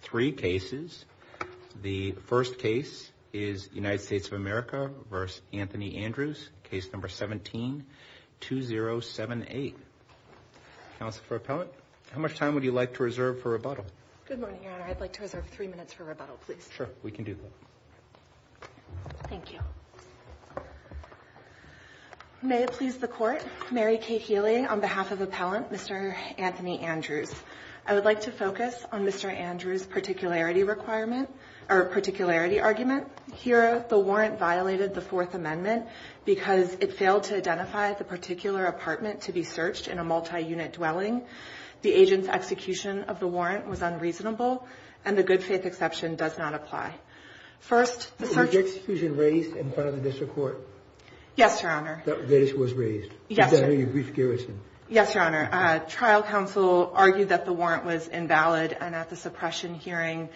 Three cases. The first case is United States of America v. Anthony Andrews, case number 17-2078. Counsel for Appellant, how much time would you like to reserve for rebuttal? Good morning, Your Honor. I'd like to reserve three minutes for rebuttal, please. Sure, we can do that. Thank you. May it please the Court, Mary Kate Healy on behalf of Appellant Mr. Anthony Andrews. I would like to focus on Mr. Andrews' particularity argument. Here, the warrant violated the Fourth Amendment because it failed to identify the particular apartment to be searched in a multi-unit dwelling. The agent's execution of the warrant was unreasonable, and the good faith exception does not apply. Was the execution raised in front of the District Court? Yes, Your Honor. This was raised? Yes, Your Honor. Is that who you briefed Garrison? Yes, Your Honor. Trial counsel argued that the warrant was invalid, and at the suppression hearing,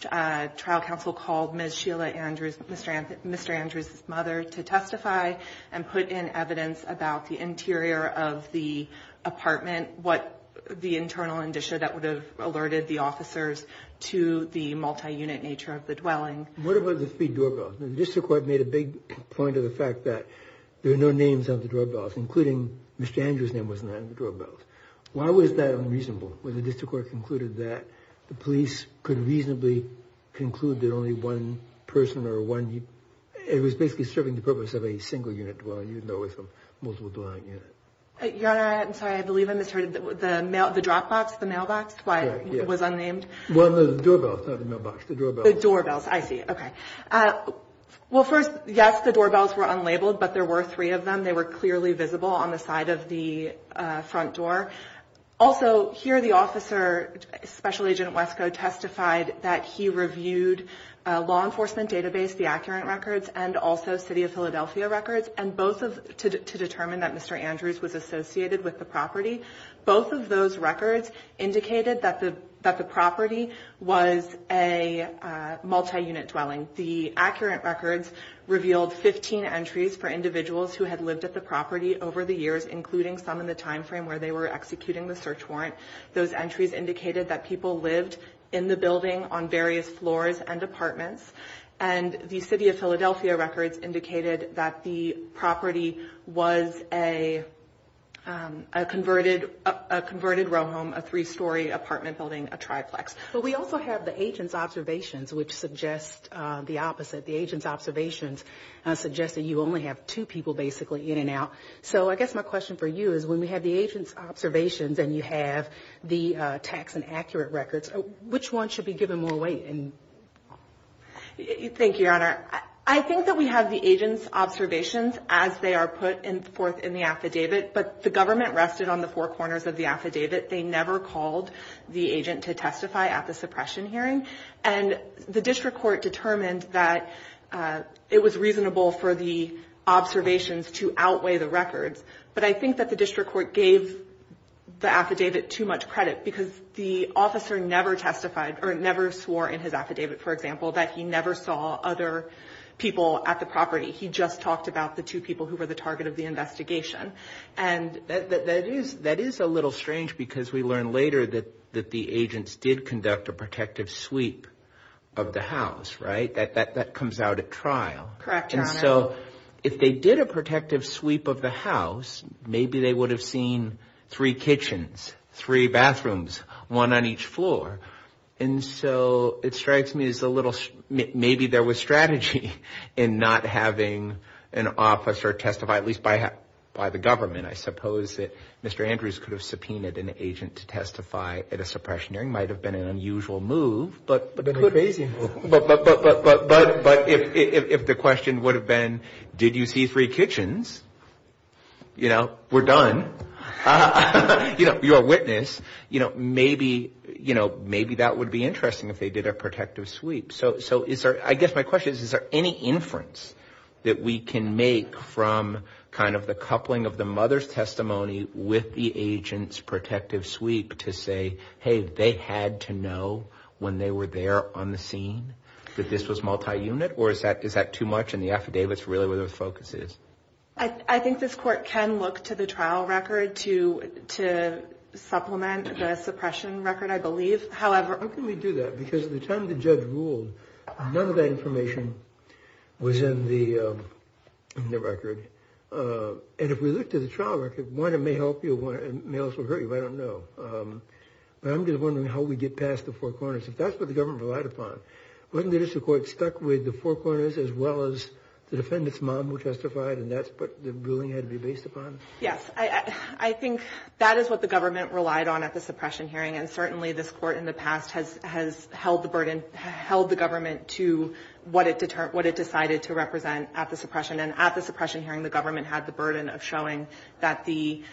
trial counsel called Ms. Sheila Andrews, Mr. Andrews' mother to testify and put in evidence about the interior of the apartment, what the internal condition that would have alerted the officers to the multi-unit nature of the dwelling. What about the three doorbells? The District Court made a big point of the fact that there are no names on the doorbells, including Ms. Andrews' name was not on the doorbells. Why was that unreasonable when the District Court concluded that the police could reasonably conclude that only one person or one, it was basically serving the purpose of a single unit dwelling, you know, with a multiple dwelling unit? Your Honor, I'm sorry, I believe I misheard. The mail, the drop box, the mailbox, why it was unnamed? Well, no, the doorbells, not the mailbox, the doorbells. The doorbells, I see, okay. Well, first, yes, the doorbells were unlabeled, but there were three of them. They were clearly visible on the side of the front door. Also, here the officer, Special Agent Wesko, testified that he reviewed a law enforcement database, the accurate records, and also City of Philadelphia records, and both of, to determine that Mr. Andrews was associated with the property. Both of those records indicated that the property was a multi-unit dwelling. The accurate records revealed 15 entries for individuals who had lived at the property over the years, including some in the time frame where they were executing the search warrant. Those entries indicated that people lived in the building on various floors and apartments, and the City of Philadelphia records indicated that the property was a converted row home, a three-story apartment building, a triplex. But we also have the agent's observations, which suggest the opposite. The agent's observations suggest that you only have two people, basically, in and out. So I guess my question for you is, when we have the agent's observations and you have the tax and accurate records, which one should be given more weight? Thank you, Your Honor. I think that we have the agent's observations as they are put forth in the affidavit, but the government rested on the four corners of the affidavit. They never called the agent to testify at the suppression hearing, and the district court determined that it was reasonable for the observations to outweigh the records. But I think that the district court gave the affidavit too much credit because the officer never testified or never swore in his affidavit, for example, that he never saw other people at the property. He just talked about the two people who were the target of the investigation. And that is a little strange because we learned later that the agents did conduct a protective sweep of the house, right? That comes out at trial. Correct, Your Honor. And so if they did a protective sweep of the house, maybe they would have seen three kitchens, three bathrooms, one on each floor. And so it strikes me as a little, maybe there was strategy in not having an officer testify, at least by the government. I suppose that Mr. Andrews could have subpoenaed an agent to testify at a suppression hearing. It might have been an unusual move. But if the question would have been, did you see three kitchens? You know, we're done. You're a witness. Maybe that would be interesting if they did a protective sweep. So I guess my question is, is there any inference that we can make from kind of the coupling of the mother's testimony with the agent's protective sweep to say, hey, they had to know when they were there on the scene that this was multi-unit? Or is that too much in the affidavits really where the focus is? I think this court can look to the trial record to supplement the suppression record, I believe. How can we do that? Because at the time the judge ruled, none of that information was in the record. And if we look to the trial record, one, it may help you. One, it may also hurt you. I don't know. But I'm just wondering how we get past the four corners. If that's what the government relied upon, wasn't the district court stuck with the four corners as well as the defendant's mom who testified, and that's what the ruling had to be based upon? Yes. I think that is what the government relied on at the suppression hearing. And certainly this court in the past has held the burden, held the government to what it decided to represent at the suppression. And at the suppression hearing, the government had the burden of showing that the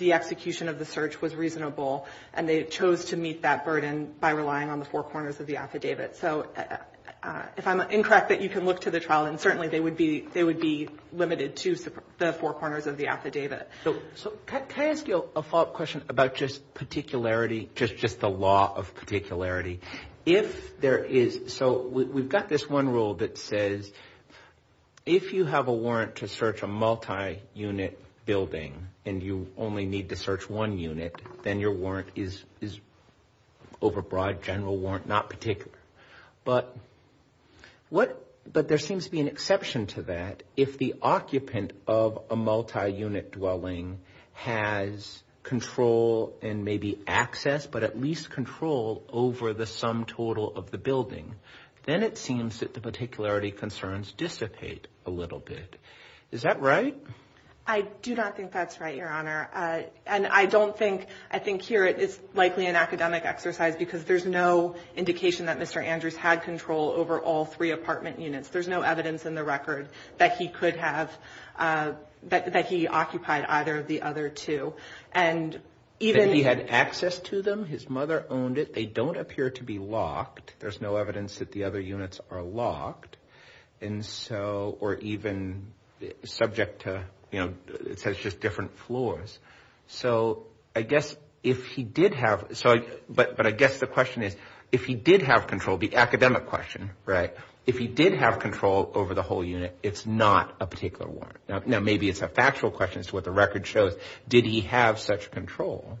execution of the search was reasonable. And they chose to meet that burden by relying on the four corners of the affidavit. So if I'm incorrect, you can look to the trial, and certainly they would be limited to the four corners of the affidavit. So can I ask a follow-up question about just particularity, just the law of particularity? So we've got this one rule that says, if you have a warrant to search a multi-unit building and you only need to search one unit, then your warrant is overbroad, general warrant, not particular. But there seems to be an exception to that. If the occupant of a multi-unit dwelling has control and maybe access, but at least control over the sum total of the building, then it seems that the particularity concerns dissipate a little bit. Is that right? I do not think that's right, Your Honor. And I don't think, I think here it is likely an academic exercise because there's no indication that Mr. There's no evidence in the record that he could have, that he occupied either of the other two. And even if he had access to them, his mother owned it, they don't appear to be locked. There's no evidence that the other units are locked. And so, or even subject to, you know, it says just different floors. So I guess if he did have, but I guess the question is, if he did have control, the academic question, right? If he did have control over the whole unit, it's not a particular warrant. Now, maybe it's a factual question as to what the record shows. Did he have such control?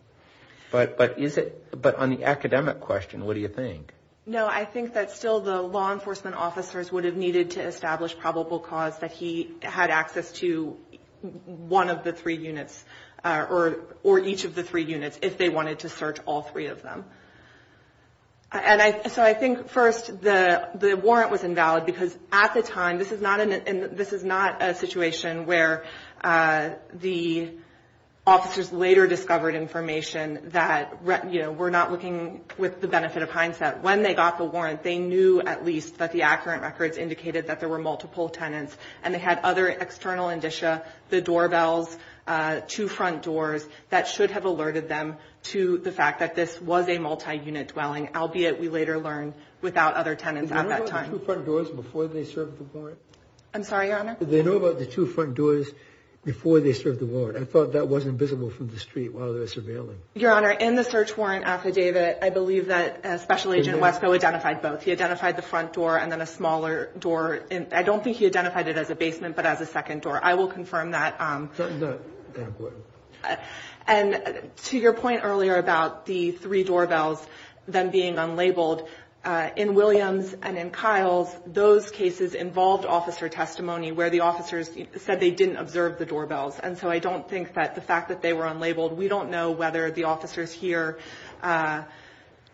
But, but is it, but on the academic question, what do you think? No, I think that still the law enforcement officers would have needed to establish probable cause that he had access to one of the three units or, or each of the three units if they wanted to search all three of them. And I, so I think first the, the warrant was invalid because at the time, this is not an, this is not a situation where the officers later discovered information that, you know, we're not looking with the benefit of hindsight. When they got the warrant, they knew at least that the accurate records indicated that there were multiple tenants and they had other external indicia, the doorbells, two front doors that should have alerted them to the fact that this was a multi-unit dwelling, albeit we later learned without other tenants at that time. Did they know about the two front doors before they served the warrant? I'm sorry, Your Honor? Did they know about the two front doors before they served the warrant? I thought that wasn't visible from the street while they were surveilling. Your Honor, in the search warrant affidavit, I believe that Special Agent Wesko identified both. He identified the front door and then a smaller door. And I don't think he identified it as a basement, but as a second door. I will confirm that. And to your point earlier about the three doorbells then being unlabeled, in Williams and in Kyle's, those cases involved officer testimony where the officers said they didn't observe the doorbells. And so I don't think that the fact that they were unlabeled, we don't know whether the officers here,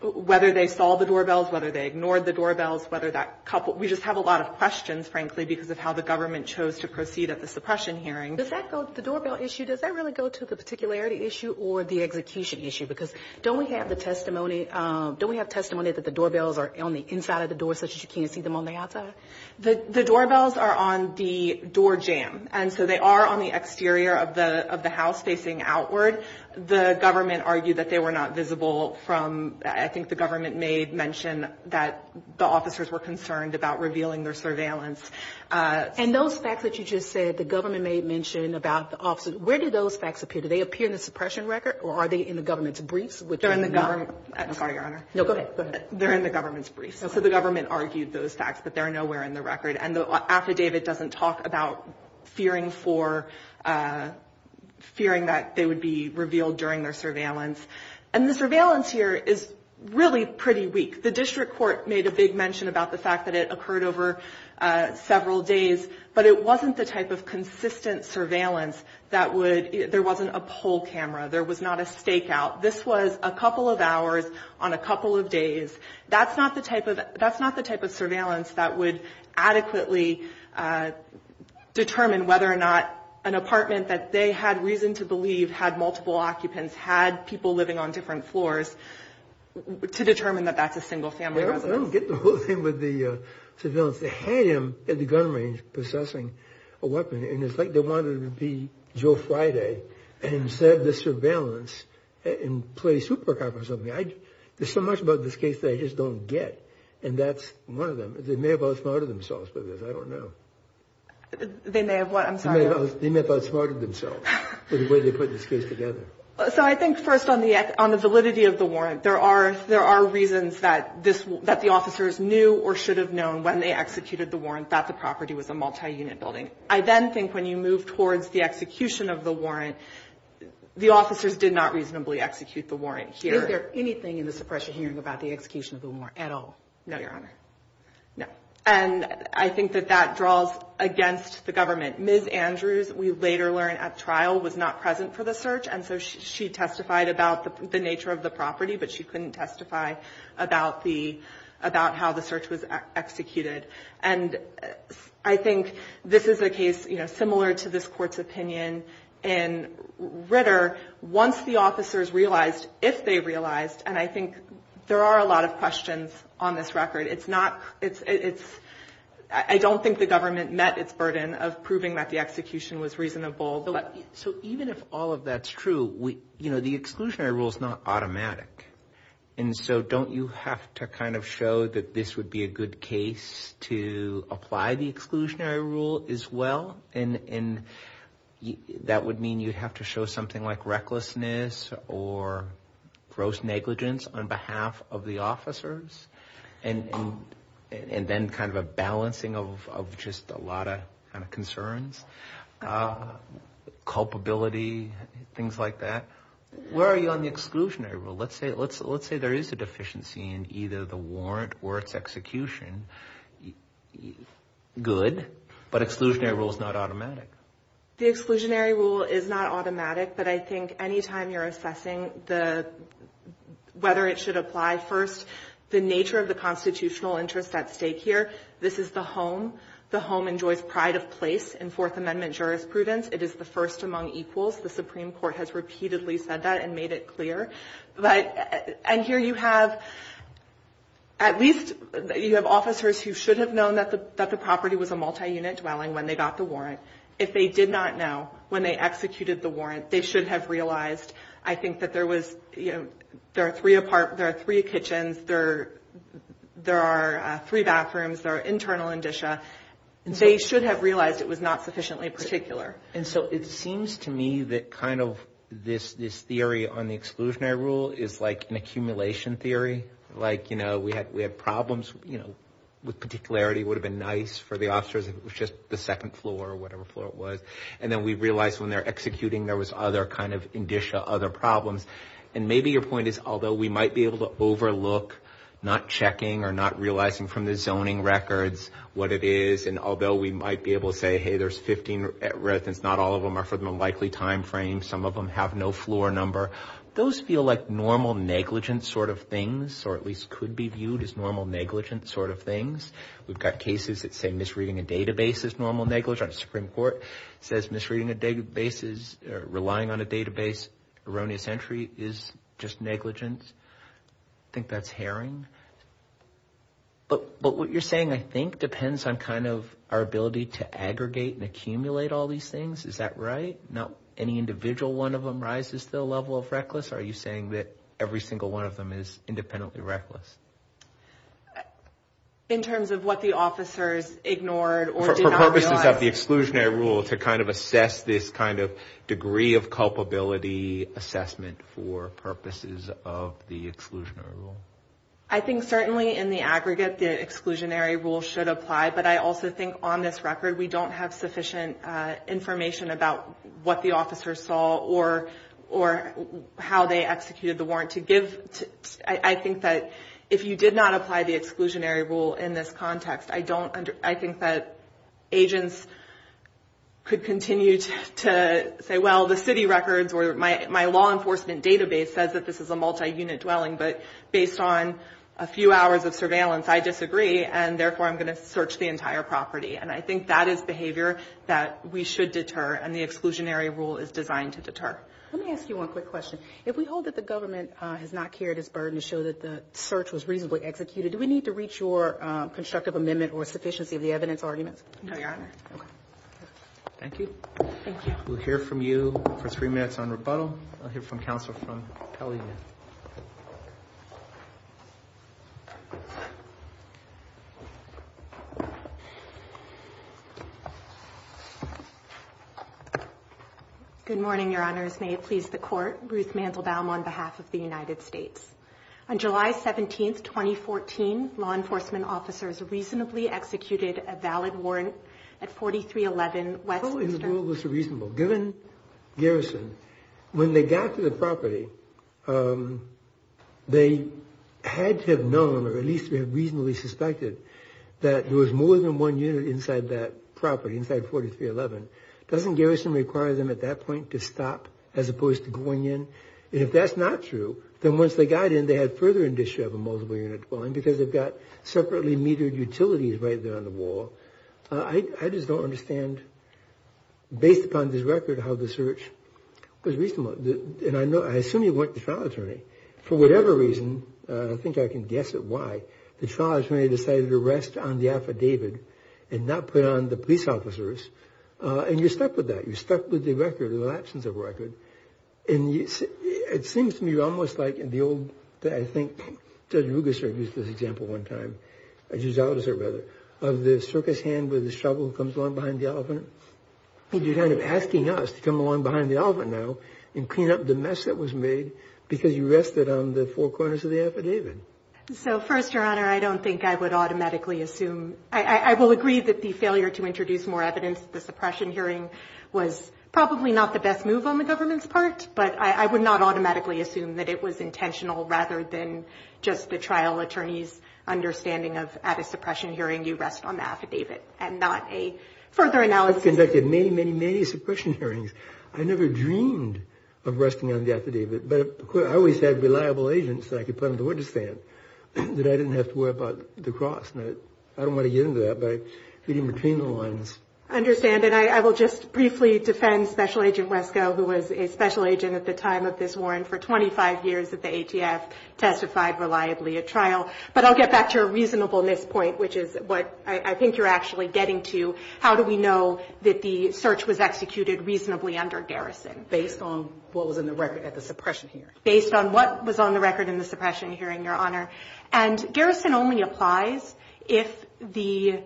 whether they saw the doorbells, whether they ignored the doorbells, whether that couple we just have a lot of questions, frankly, because of how the government chose to proceed at the suppression hearing. Does that go to the doorbell issue? Does that really go to the particularity issue or the execution issue? Because don't we have the testimony, don't we have testimony that the doorbells are on the inside of the door such that you can't see them on the outside? The doorbells are on the door jam. And so they are on the exterior of the house facing outward. The government argued that they were not visible from, I think the government may mention that the officers were concerned about revealing their surveillance. And those facts that you just said, the government may mention about the officers, where do those facts appear? Do they appear in the suppression record or are they in the government's briefs? They're in the government's briefs. So the government argued those facts, but they're nowhere in the record. And the affidavit doesn't talk about fearing for, fearing that they would be revealed during their surveillance. And the surveillance here is really pretty weak. The district court made a big mention about the fact that it occurred over several days, but it wasn't the type of consistent surveillance that would, there wasn't a poll camera. There was not a stakeout. This was a couple of hours on a couple of days. That's not the type of, that's not the type of surveillance that would adequately determine whether or not an apartment that they had reason to believe had multiple occupants, had people living on different floors to determine that that's a single family residence. I don't get the whole thing with the surveillance. They had him at the gun range possessing a weapon. And it's like they wanted it to be Joe Friday and said the surveillance and play super cop or something. There's so much about this case that I just don't get. And that's one of them. They may have outsmarted themselves with this. I don't know. They may have what? I'm sorry. They may have outsmarted themselves with the way they put this case together. So I think first on the validity of the warrant, there are reasons that this, that the officers knew or should have known when they executed the warrant that the property was a multi-unit building. I then think when you move towards the execution of the warrant, the officers did not reasonably execute the warrant here. Is there anything in the suppression hearing about the execution of the warrant at all? No, Your Honor. No. And I think that that draws against the we later learned at trial was not present for the search. And so she testified about the nature of the property, but she couldn't testify about the, about how the search was executed. And I think this is a case, you know, similar to this court's opinion in Ritter. Once the officers realized, if they realized, and I think there are a lot of questions on this but. So even if all of that's true, we, you know, the exclusionary rule is not automatic. And so don't you have to kind of show that this would be a good case to apply the exclusionary rule as well? And that would mean you'd have to show something like recklessness or gross negligence on behalf of the officers. And then kind of a balancing of just a lot of kind of a culpability, things like that. Where are you on the exclusionary rule? Let's say, let's, let's say there is a deficiency in either the warrant or its execution. Good, but exclusionary rule is not automatic. The exclusionary rule is not automatic, but I think anytime you're assessing the, whether it should apply first, the nature of the constitutional interest at stake here, this is the home. The home enjoys pride of place in Fourth Amendment jurisprudence. It is the first among equals. The Supreme Court has repeatedly said that and made it clear. But, and here you have, at least you have officers who should have known that the, that the property was a multi-unit dwelling when they got the warrant. If they did not know when they executed the warrant, they should have realized. I think that there was, you know, there are three apart, there are three kitchens, there, there are three bathrooms, there are internal indicia. They should have realized it was not sufficiently particular. And so it seems to me that kind of this, this theory on the exclusionary rule is like an accumulation theory. Like, you know, we had, we had problems, you know, with particularity, would have been nice for the officers if it was just the second floor or whatever floor it was. And then we realized when they're executing, there was other kind of indicia, other problems. And maybe your point is, although we might be able to overlook not checking or not realizing from the zoning records what it is, and although we might be able to say, hey, there's 15 residents, not all of them are from a likely timeframe. Some of them have no floor number. Those feel like normal negligence sort of things, or at least could be viewed as normal negligence sort of things. We've got cases that say misreading a database is normal negligence. Supreme Court says misreading a database is relying on a database. Erroneous entry is just negligence. I think that's herring. But what you're saying, I think, depends on kind of our ability to aggregate and accumulate all these things. Is that right? Not any individual one of them rises to the level of reckless. Are you saying that every single one of them is independently reckless? In terms of what the officers ignored or did not realize? For purposes of the exclusionary rule, to kind of assess this kind of degree of culpability assessment for purposes of the exclusionary rule? I think certainly in the aggregate, the exclusionary rule should apply. But I also think on this record, we don't have sufficient information about what the officers saw or how they executed the warrant to give. I think that if you did not apply the exclusionary rule in this context, I think that agents could continue to say, well, the city records or my law enforcement database says that this is a multi-unit dwelling. But based on a few hours of surveillance, I disagree. And therefore, I'm going to search the entire property. And I think that is behavior that we should deter. And the exclusionary rule is designed to deter. Let me ask you one quick question. If we hold that the government has not carried its burden to show that the search was reasonably executed, do we need to reach your constructive amendment or sufficiency of the evidence arguments? No, Your Honor. Thank you. We'll hear from you for three minutes on rebuttal. I'll hear from counsel from Pelley. Good morning, Your Honors. May it please the court. Ruth Mandelbaum on behalf of the United States. On July 17th, 2014, law enforcement officers reasonably executed a valid warrant at 4311 West. In the world was reasonable given garrison when they got to the property. They had to have known or at least reasonably suspected that there was more than one year inside that property, inside 4311. Doesn't garrison require them at that point to stop as opposed to going in? And if that's not true, then once they got in, they had further indicia of a multiple unit dwelling because they've got separately metered utilities right there on the wall. I just don't understand, based upon this record, how the search was reasonable. And I know I assume you went to trial attorney. For whatever reason, I think I can guess at why the trial attorney decided to rest on the affidavit and not put on the police officers. And you're stuck with that. You're stuck with the record, the lapses of record. And it seems to me almost like in the old, that I think Judge Ruggister used this example one time, Judge Alderser, rather, of the circus hand with the shovel comes along behind the elephant. You're kind of asking us to come along behind the elephant now and clean up the mess that was made because you rested on the four corners of the affidavit. So first, Your Honor, I don't think I would automatically assume. I will agree that the failure to introduce more evidence at the suppression hearing was probably not the best move on the government's part, but I would not automatically assume that it was intentional rather than just the trial attorney's understanding of at a suppression hearing, you rest on the affidavit and not a further analysis. I've conducted many, many, many suppression hearings. I never dreamed of resting on the affidavit, but I always had reliable agents that I could put on the witness stand that I didn't have to worry about the cross. And I don't want to get into that by getting between the lines. I understand. And I will just briefly defend Special Agent Wesko, who was a special agent at the time of this warrant for 25 years at the ATF, testified reliably at trial. But I'll get back to a reasonableness point, which is what I think you're actually getting to. How do we know that the search was executed reasonably under garrison? Based on what was in the record at the suppression hearing. Based on what was on the record in the suppression hearing, Your Honor. And garrison only applies if the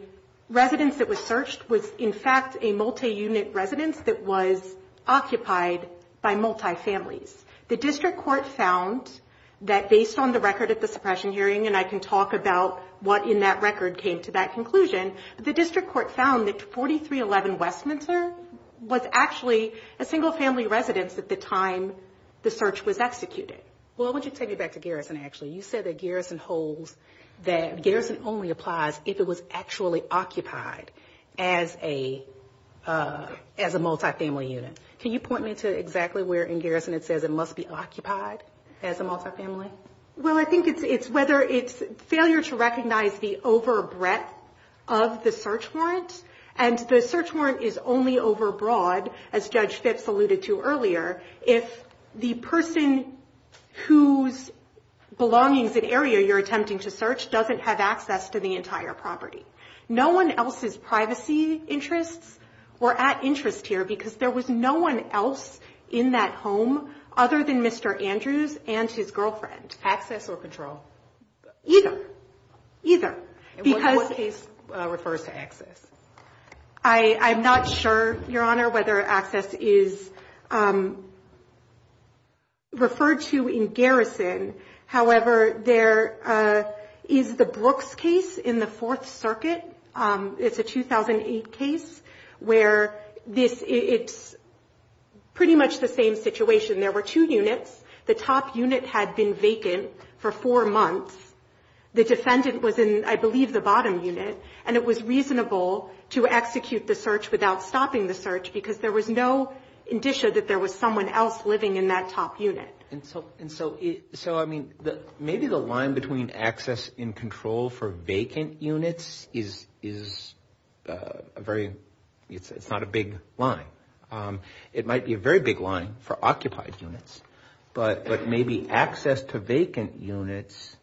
residence that was searched was, in fact, a multi-unit residence that was occupied by multi-families. The district court found that based on the record at the suppression the district court found that 4311 Westminster was actually a single family residence at the time the search was executed. Well, I want you to take me back to garrison, actually. You said that garrison holds that garrison only applies if it was actually occupied as a multi-family unit. Can you point me to exactly where in garrison it says it must be occupied as a multi-family? Well, I think it's whether it's failure to recognize the over breadth of the search warrant. And the search warrant is only over broad, as Judge Phipps alluded to earlier, if the person whose belongings and area you're attempting to search doesn't have access to the entire property. No one else's privacy interests were at interest here because there was no one else in that home other than Mr. Andrews and his girlfriend. Access or control? Either. Either. And what case refers to access? I'm not sure, Your Honor, whether access is referred to in garrison. However, there is the Brooks case in the Fourth Circuit. It's a 2008 case where it's pretty much the same situation. There were two units. The top unit had been vacant for four months. The defendant was in, I believe, the bottom unit. And it was reasonable to execute the search without stopping the search because there was no indicia that there was someone else living in that top unit. And so, I mean, maybe the line between access and control for vacant units is a very, it's not a big line. It might be a very big line for occupied units. But maybe access to vacant units,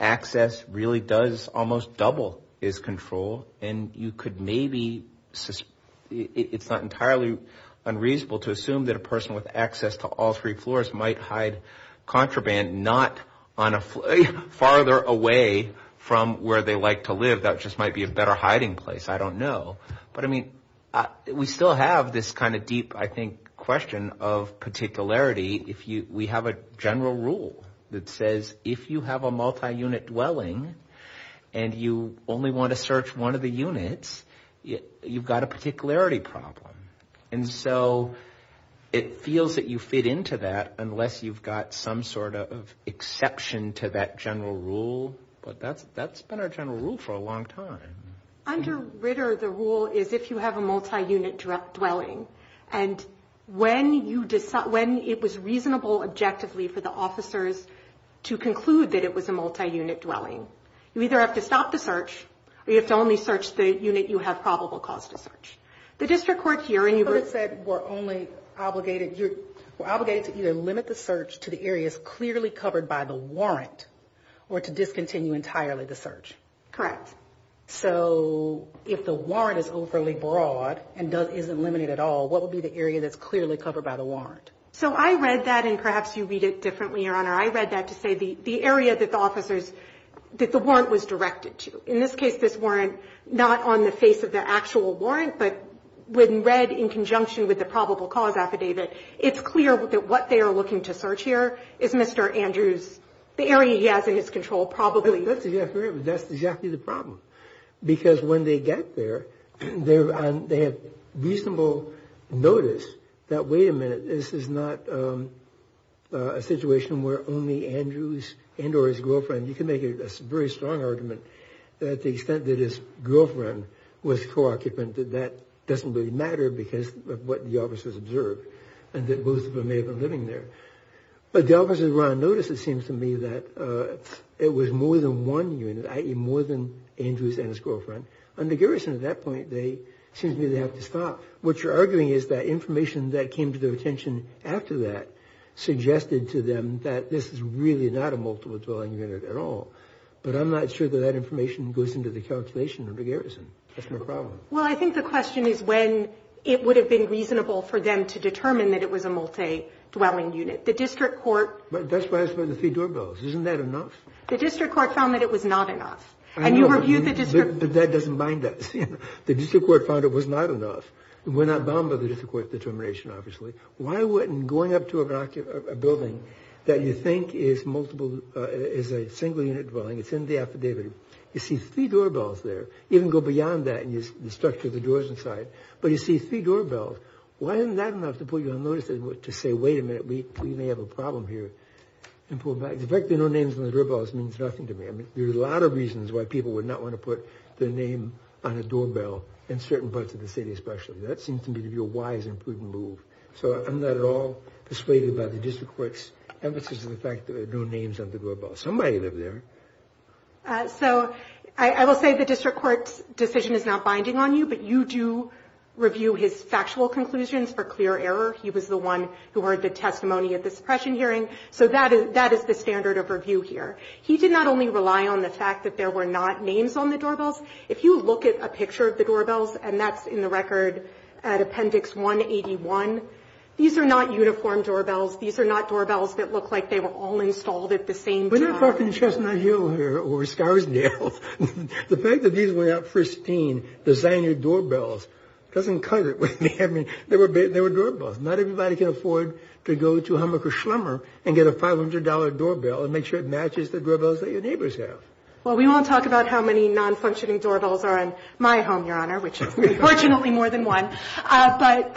access really does almost double as control. And you could maybe, it's not entirely unreasonable to assume that a person with access to all three floors might hide contraband not farther away from where they like to live. That just might be a better hiding place. I don't know. But, I mean, we still have this kind of deep, I think, question of particularity. We have a general rule that says if you have a multi-unit dwelling and you only want to search one of the three floors, you have to stop the search. And so, it feels that you fit into that unless you've got some sort of exception to that general rule. But that's been our general rule for a long time. Under Ritter, the rule is if you have a multi-unit dwelling. And when it was reasonable, objectively, for the officers to conclude that it was a multi-unit dwelling, you either have to stop the search or you have to only search the unit you have probable cause to search. The district court here, and you were... You said we're only obligated, you're obligated to either limit the search to the areas clearly covered by the warrant or to discontinue entirely the search. Correct. So, if the warrant is overly broad and doesn't, isn't limited at all, what would be the area that's clearly covered by the warrant? So, I read that, and perhaps you read it differently, Your Honor. I read that to say the area that the officers, that the warrant was directed to. In this case, this warrant, not on the face of the actual warrant, but when read in conjunction with the probable cause affidavit, it's clear that what they are looking to search here is Mr. Andrews. The area he has in his control probably... That's exactly the problem. Because when they get there, they have reasonable notice that, wait a minute, this is not a situation where only Andrews and or his girlfriend, you can make a very strong argument that the extent that his girlfriend was co-occupant, that doesn't really matter because of what the officers observed, and that both of them may have been living there. But the officers around notice, it seems to me, that it was more than one unit, i.e. more than Andrews and his girlfriend. Under Garrison, at that point, they, it seems to me, they have to stop. What you're arguing is that information that came to their attention after that But I'm not sure that that information goes into the calculation under Garrison. That's my problem. Well, I think the question is when it would have been reasonable for them to determine that it was a multi-dwelling unit. The district court... But that's why it's by the three doorbells. Isn't that enough? The district court found that it was not enough. I know, but that doesn't bind us. The district court found it was not enough. We're not bound by the district court determination, obviously. Why wouldn't going up to a building that you think is a single unit dwelling, it's in the affidavit, you see three doorbells there, you can go beyond that and you structure the doors inside, but you see three doorbells. Why isn't that enough to put you on notice to say, wait a minute, we may have a problem here? The fact there are no names on the doorbells means nothing to me. I mean, there's a lot of reasons why people would not want to put their name on a doorbell in certain parts of the city, especially. That seems to me to be a wise and prudent move. So I'm not at all persuaded by the district court's emphasis on the fact that there are no names on the doorbells. Somebody lived there. So I will say the district court's decision is not binding on you, but you do review his factual conclusions for clear error. He was the one who heard the testimony at the suppression hearing. So that is the standard of review here. He did not only rely on the fact that there were not names on the doorbells. If you look at a picture of the doorbells, and that's in the record at Appendix 181. These are not uniform doorbells. These are not doorbells that look like they were all installed at the same time. We're not talking Chestnut Hill here or Scarsdale. The fact that these went out pristine, the designer doorbells, doesn't cut it. I mean, they were doorbells. Not everybody can afford to go to Hummacher Schlemmer and get a $500 doorbell and make sure it matches the doorbells that your neighbors have. Well, we won't talk about how many non-functioning doorbells are in my home, which is unfortunately more than one. But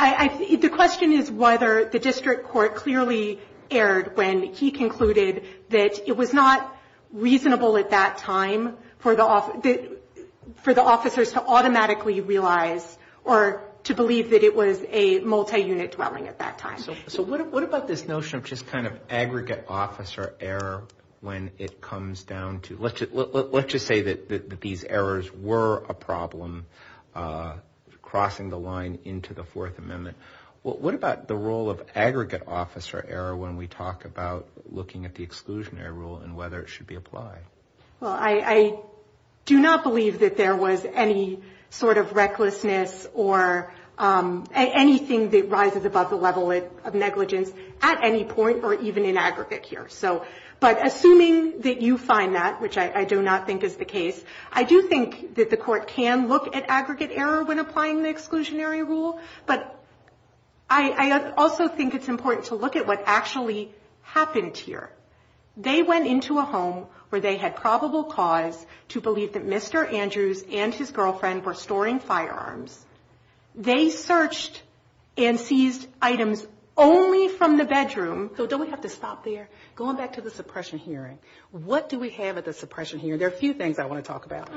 the question is whether the district court clearly erred when he concluded that it was not reasonable at that time for the officers to automatically realize or to believe that it was a multi-unit dwelling at that time. So what about this notion of just kind of aggregate officer error when it comes down to let's just say that these errors were a problem crossing the line into the Fourth Amendment. Well, what about the role of aggregate officer error when we talk about looking at the exclusionary rule and whether it should be applied? Well, I do not believe that there was any sort of recklessness or anything that rises above the level of negligence at any point or even in aggregate here. But assuming that you find that, which I do not think is the case, I do think that the court can look at aggregate error when applying the exclusionary rule. But I also think it's important to look at what actually happened here. They went into a home where they had probable cause to believe that Mr. Andrews and his girlfriend were storing firearms. They searched and seized items only from the bedroom. So don't we have to stop there? Going back to the suppression hearing, what do we have at the suppression hearing? There are a few things I want to talk about.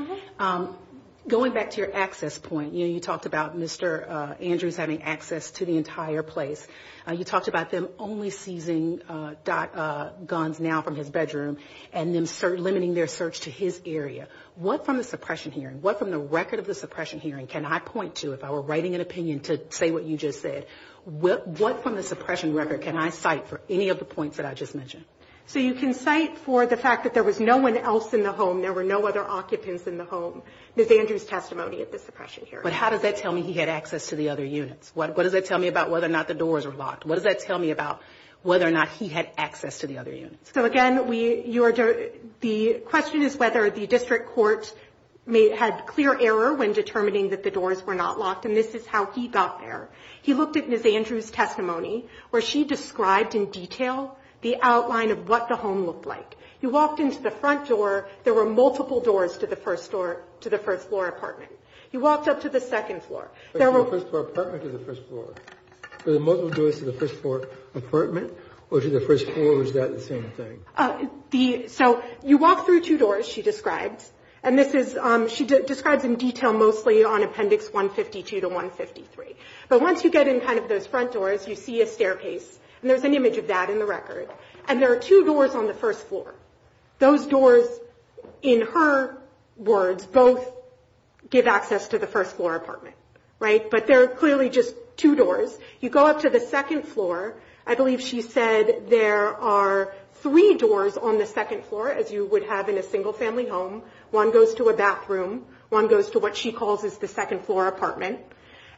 Going back to your access point, you talked about Mr. Andrews having access to the entire place. You talked about them only seizing guns now from his bedroom and then limiting their search to his area. What from the suppression hearing, what from the record of the suppression hearing can I point to if I were writing an opinion to say what you just said? What from the suppression record can I cite for any of the points that I just mentioned? So you can cite for the fact that there was no one else in the home, there were no other occupants in the home, Ms. Andrews' testimony at the suppression hearing. But how does that tell me he had access to the other units? What does that tell me about whether or not the doors were locked? What does that tell me about whether or not he had access to the other units? So again, the question is whether the district court had clear error when determining that the doors were not locked, and this is how he got there. He looked at Ms. Andrews' testimony where she described in detail the outline of what the home looked like. He walked into the front door, there were multiple doors to the first door, to the first floor apartment. He walked up to the second floor. But to the first floor apartment or to the first floor? Were there multiple doors to the first floor apartment or to the first floor, or was that the same thing? So you walk through two doors, she described, and this is, she describes in detail mostly on Appendix 152 to 153. But once you get in kind of those front doors, you see a staircase, and there's an image of that in the record. And there are two doors on the first floor. Those doors, in her words, both give access to the first floor apartment, right? But there are clearly just two doors. You go up to the second floor. I believe she said there are three doors on the second floor, as you would have in a single-family home. One goes to a bathroom. One goes to what she calls is the second floor apartment.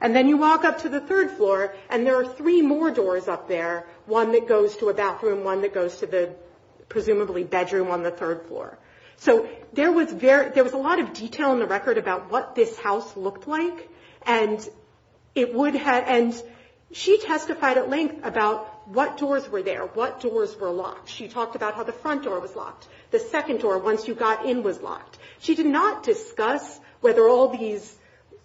And then you walk up to the third floor, and there are three more doors up there. One that goes to a bathroom. One that goes to the presumably bedroom on the third floor. So there was a lot of detail in the record about what this house looked like. And it would have, and she testified at length about what doors were there, what doors were locked. She talked about how the front door was locked. The second door, once you got in, was locked. She did not discuss whether all these,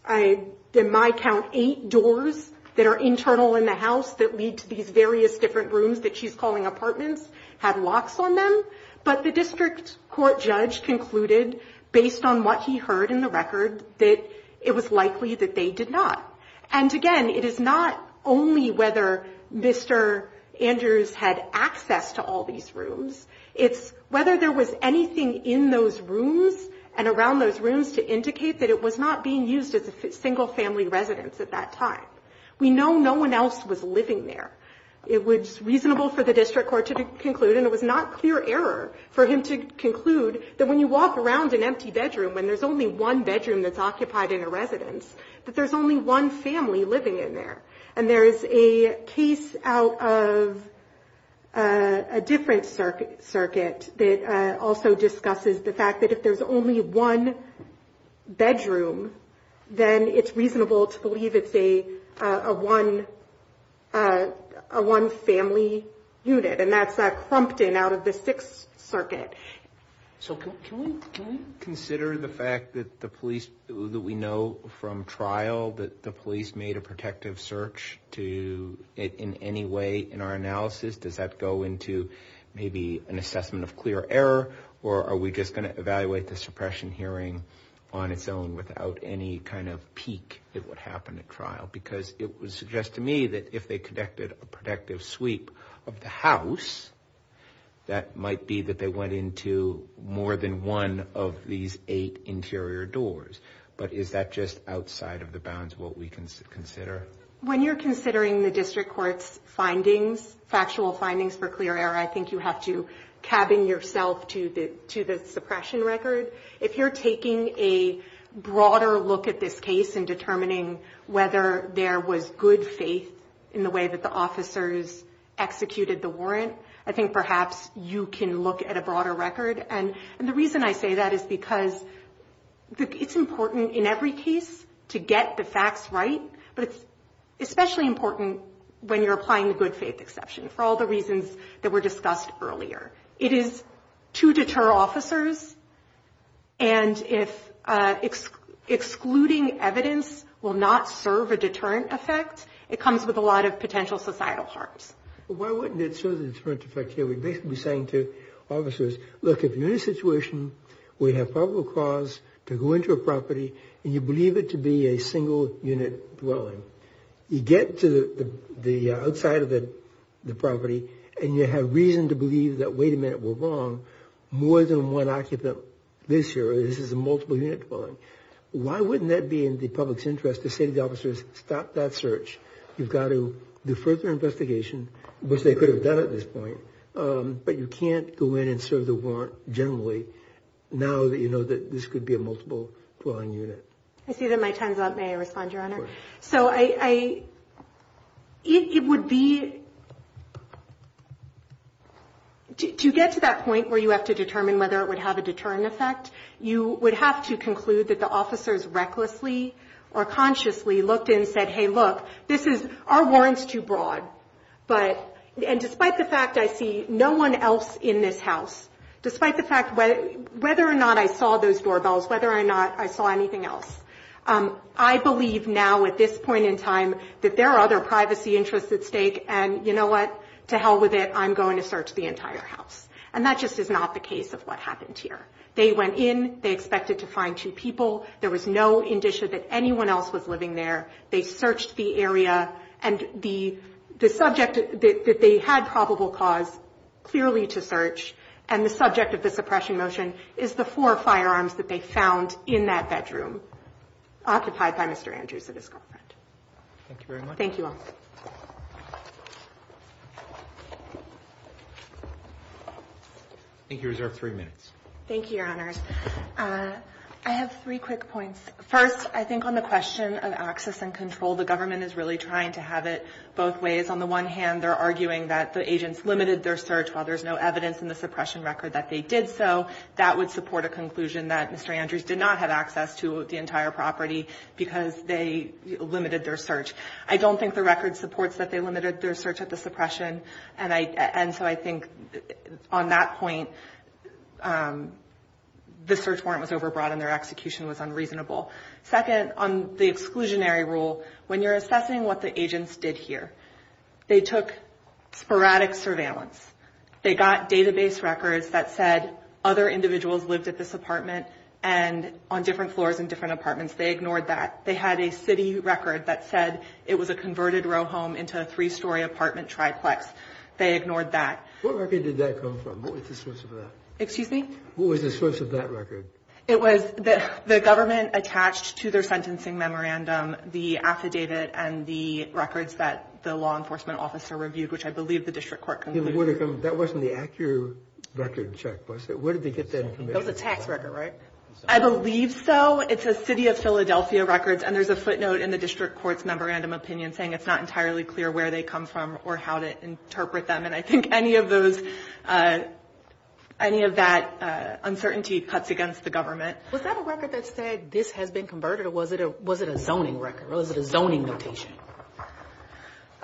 in my count, eight doors that are internal in the house that lead to these various different rooms that she's calling apartments had locks on them. But the district court judge concluded, based on what he heard in the record, that it was likely that they did not. And again, it is not only whether Mr. Andrews had access to all these rooms. It's whether there was anything in those rooms and around those rooms to indicate that it was not being used as a single family residence at that time. We know no one else was living there. It was reasonable for the district court to conclude, and it was not clear error for him to conclude, that when you walk around an empty bedroom, when there's only one bedroom that's occupied in a residence, that there's only one family living in there. And there is a case out of a different circuit that also discusses the fact that if there's only one bedroom, then it's reasonable to believe it's a one family unit. And that's Clumpton out of the Sixth Circuit. So can we consider the fact that the police, that we know from trial that the police made a protective search to it in any way in our analysis? Does that go into maybe an assessment of clear error? Or are we just going to evaluate the suppression hearing on its own without any kind of peak that would happen at trial? Because it would suggest to me that if they conducted a protective sweep of the house, that might be that they went into more than one of these eight interior doors. But is that just outside of the bounds of what we can consider? When you're considering the district court's findings, factual findings for clear error, I think you have to cabin yourself to the suppression record. If you're taking a broader look at this case and determining whether there was good faith in the way that the officers executed the warrant, I think perhaps you can look at a broader record. And the reason I say that is because it's important in every case to get the facts right. But it's especially important when you're applying the good faith exception for all the reasons that were discussed earlier. It is to deter officers. And if excluding evidence will not serve a deterrent effect, it comes with a lot of potential societal harms. Why wouldn't it serve a deterrent effect here? We'd basically be saying to officers, look, if you're in a situation where you have probable cause to go into a property and you believe it to be a single unit dwelling, you get to the outside of the property and you have reason to believe that, wait a minute, we're wrong. More than one occupant this year, this is a multiple unit dwelling. Why wouldn't that be in the public's interest to say to the officers, stop that search? You've got to do further investigation, which they could have done at this point. But you can't go in and serve the warrant generally now that you know that this could be a multiple dwelling unit. I see that my time's up. May I respond, Your Honor? So it would be, to get to that point where you have to determine whether it would have a deterrent effect, you would have to conclude that the officers recklessly or consciously looked in and said, hey, look, this is, our warrant's too broad. But, and despite the fact I see no one else in this house, despite the fact whether or not I saw those doorbells, whether or not I saw anything else, I believe now at this point in time that there are other privacy interests at stake and you know what, to hell with it, I'm going to search the entire house. And that just is not the case of what happened here. They went in. They expected to find two people. There was no indicia that anyone else was living there. They searched the area. And the subject that they had probable cause clearly to search and the subject of the suppression motion is the four firearms that they found in that bedroom, occupied by Mr. Andrews and his girlfriend. Thank you very much. Thank you all. I think you reserve three minutes. Thank you, Your Honor. I have three quick points. First, I think on the question of access and control, the government is really trying to have it both ways. On the one hand, they're arguing that the agents limited their search while there's no evidence in the suppression record that they did so. That would support a conclusion that Mr. Andrews did not have access to the entire property because they limited their search. I don't think the record supports that they limited their search at the suppression. And so I think on that point, the search warrant was overbrought and their execution was unreasonable. Second, on the exclusionary rule, when you're assessing what the agents did here, they took sporadic surveillance. They got database records that said other individuals lived at this apartment and on different floors in different apartments. They ignored that. They had a city record that said it was a converted row home into a three-story apartment triplex. They ignored that. What record did that come from? What was the source of that? Excuse me? What was the source of that record? It was the government attached to their sentencing memorandum the affidavit and the records that the law enforcement officer reviewed, which I believe the district court concluded. That wasn't the accurate record check, was it? Where did they get that information? It was a tax record, right? I believe so. It's a city of Philadelphia records. And there's a footnote in the district court's memorandum opinion saying it's not entirely clear where they come from or how to interpret them. And I think any of those, any of that uncertainty cuts against the government. Was that a record that said this has been converted or was it a zoning record? Was it a zoning notation?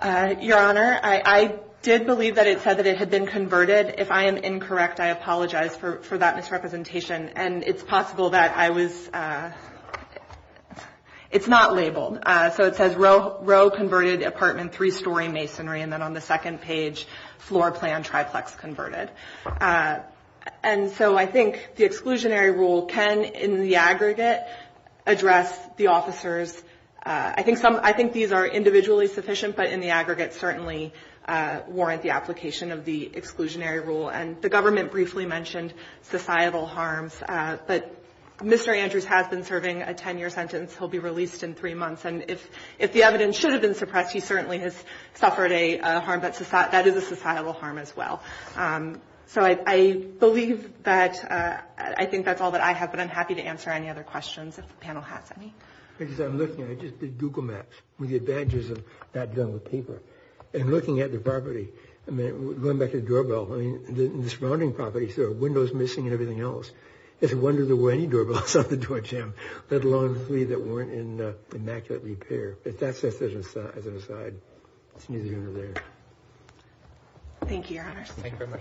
Your Honor, I did believe that it said that it had been converted. If I am incorrect, I apologize for that misrepresentation. And it's possible that I was, it's not labeled. So it says row converted apartment, three-story masonry. And then on the second page, floor plan triplex converted. And so I think the exclusionary rule can, in the aggregate, address the officers. I think some, I think these are individually sufficient, but in the aggregate certainly warrant the application of the exclusionary rule. And the government briefly mentioned societal harms. But Mr. Andrews has been serving a 10-year sentence. He'll be released in three months. And if the evidence should have been suppressed, he certainly has suffered a harm. But that is a societal harm as well. So I believe that, I think that's all that I have. But I'm happy to answer any other questions if the panel has any. Because I'm looking, I just did Google Maps with the advantages of that done with paper. And looking at the property, I mean, going back to the doorbell. I mean, the surrounding properties, there are windows missing and everything else. It's a wonder there were any doorbells on the doorjamb, let alone three that weren't in immaculate repair. But that's just as an aside. It's neither here nor there. Thank you, Your Honors. Thank you very much.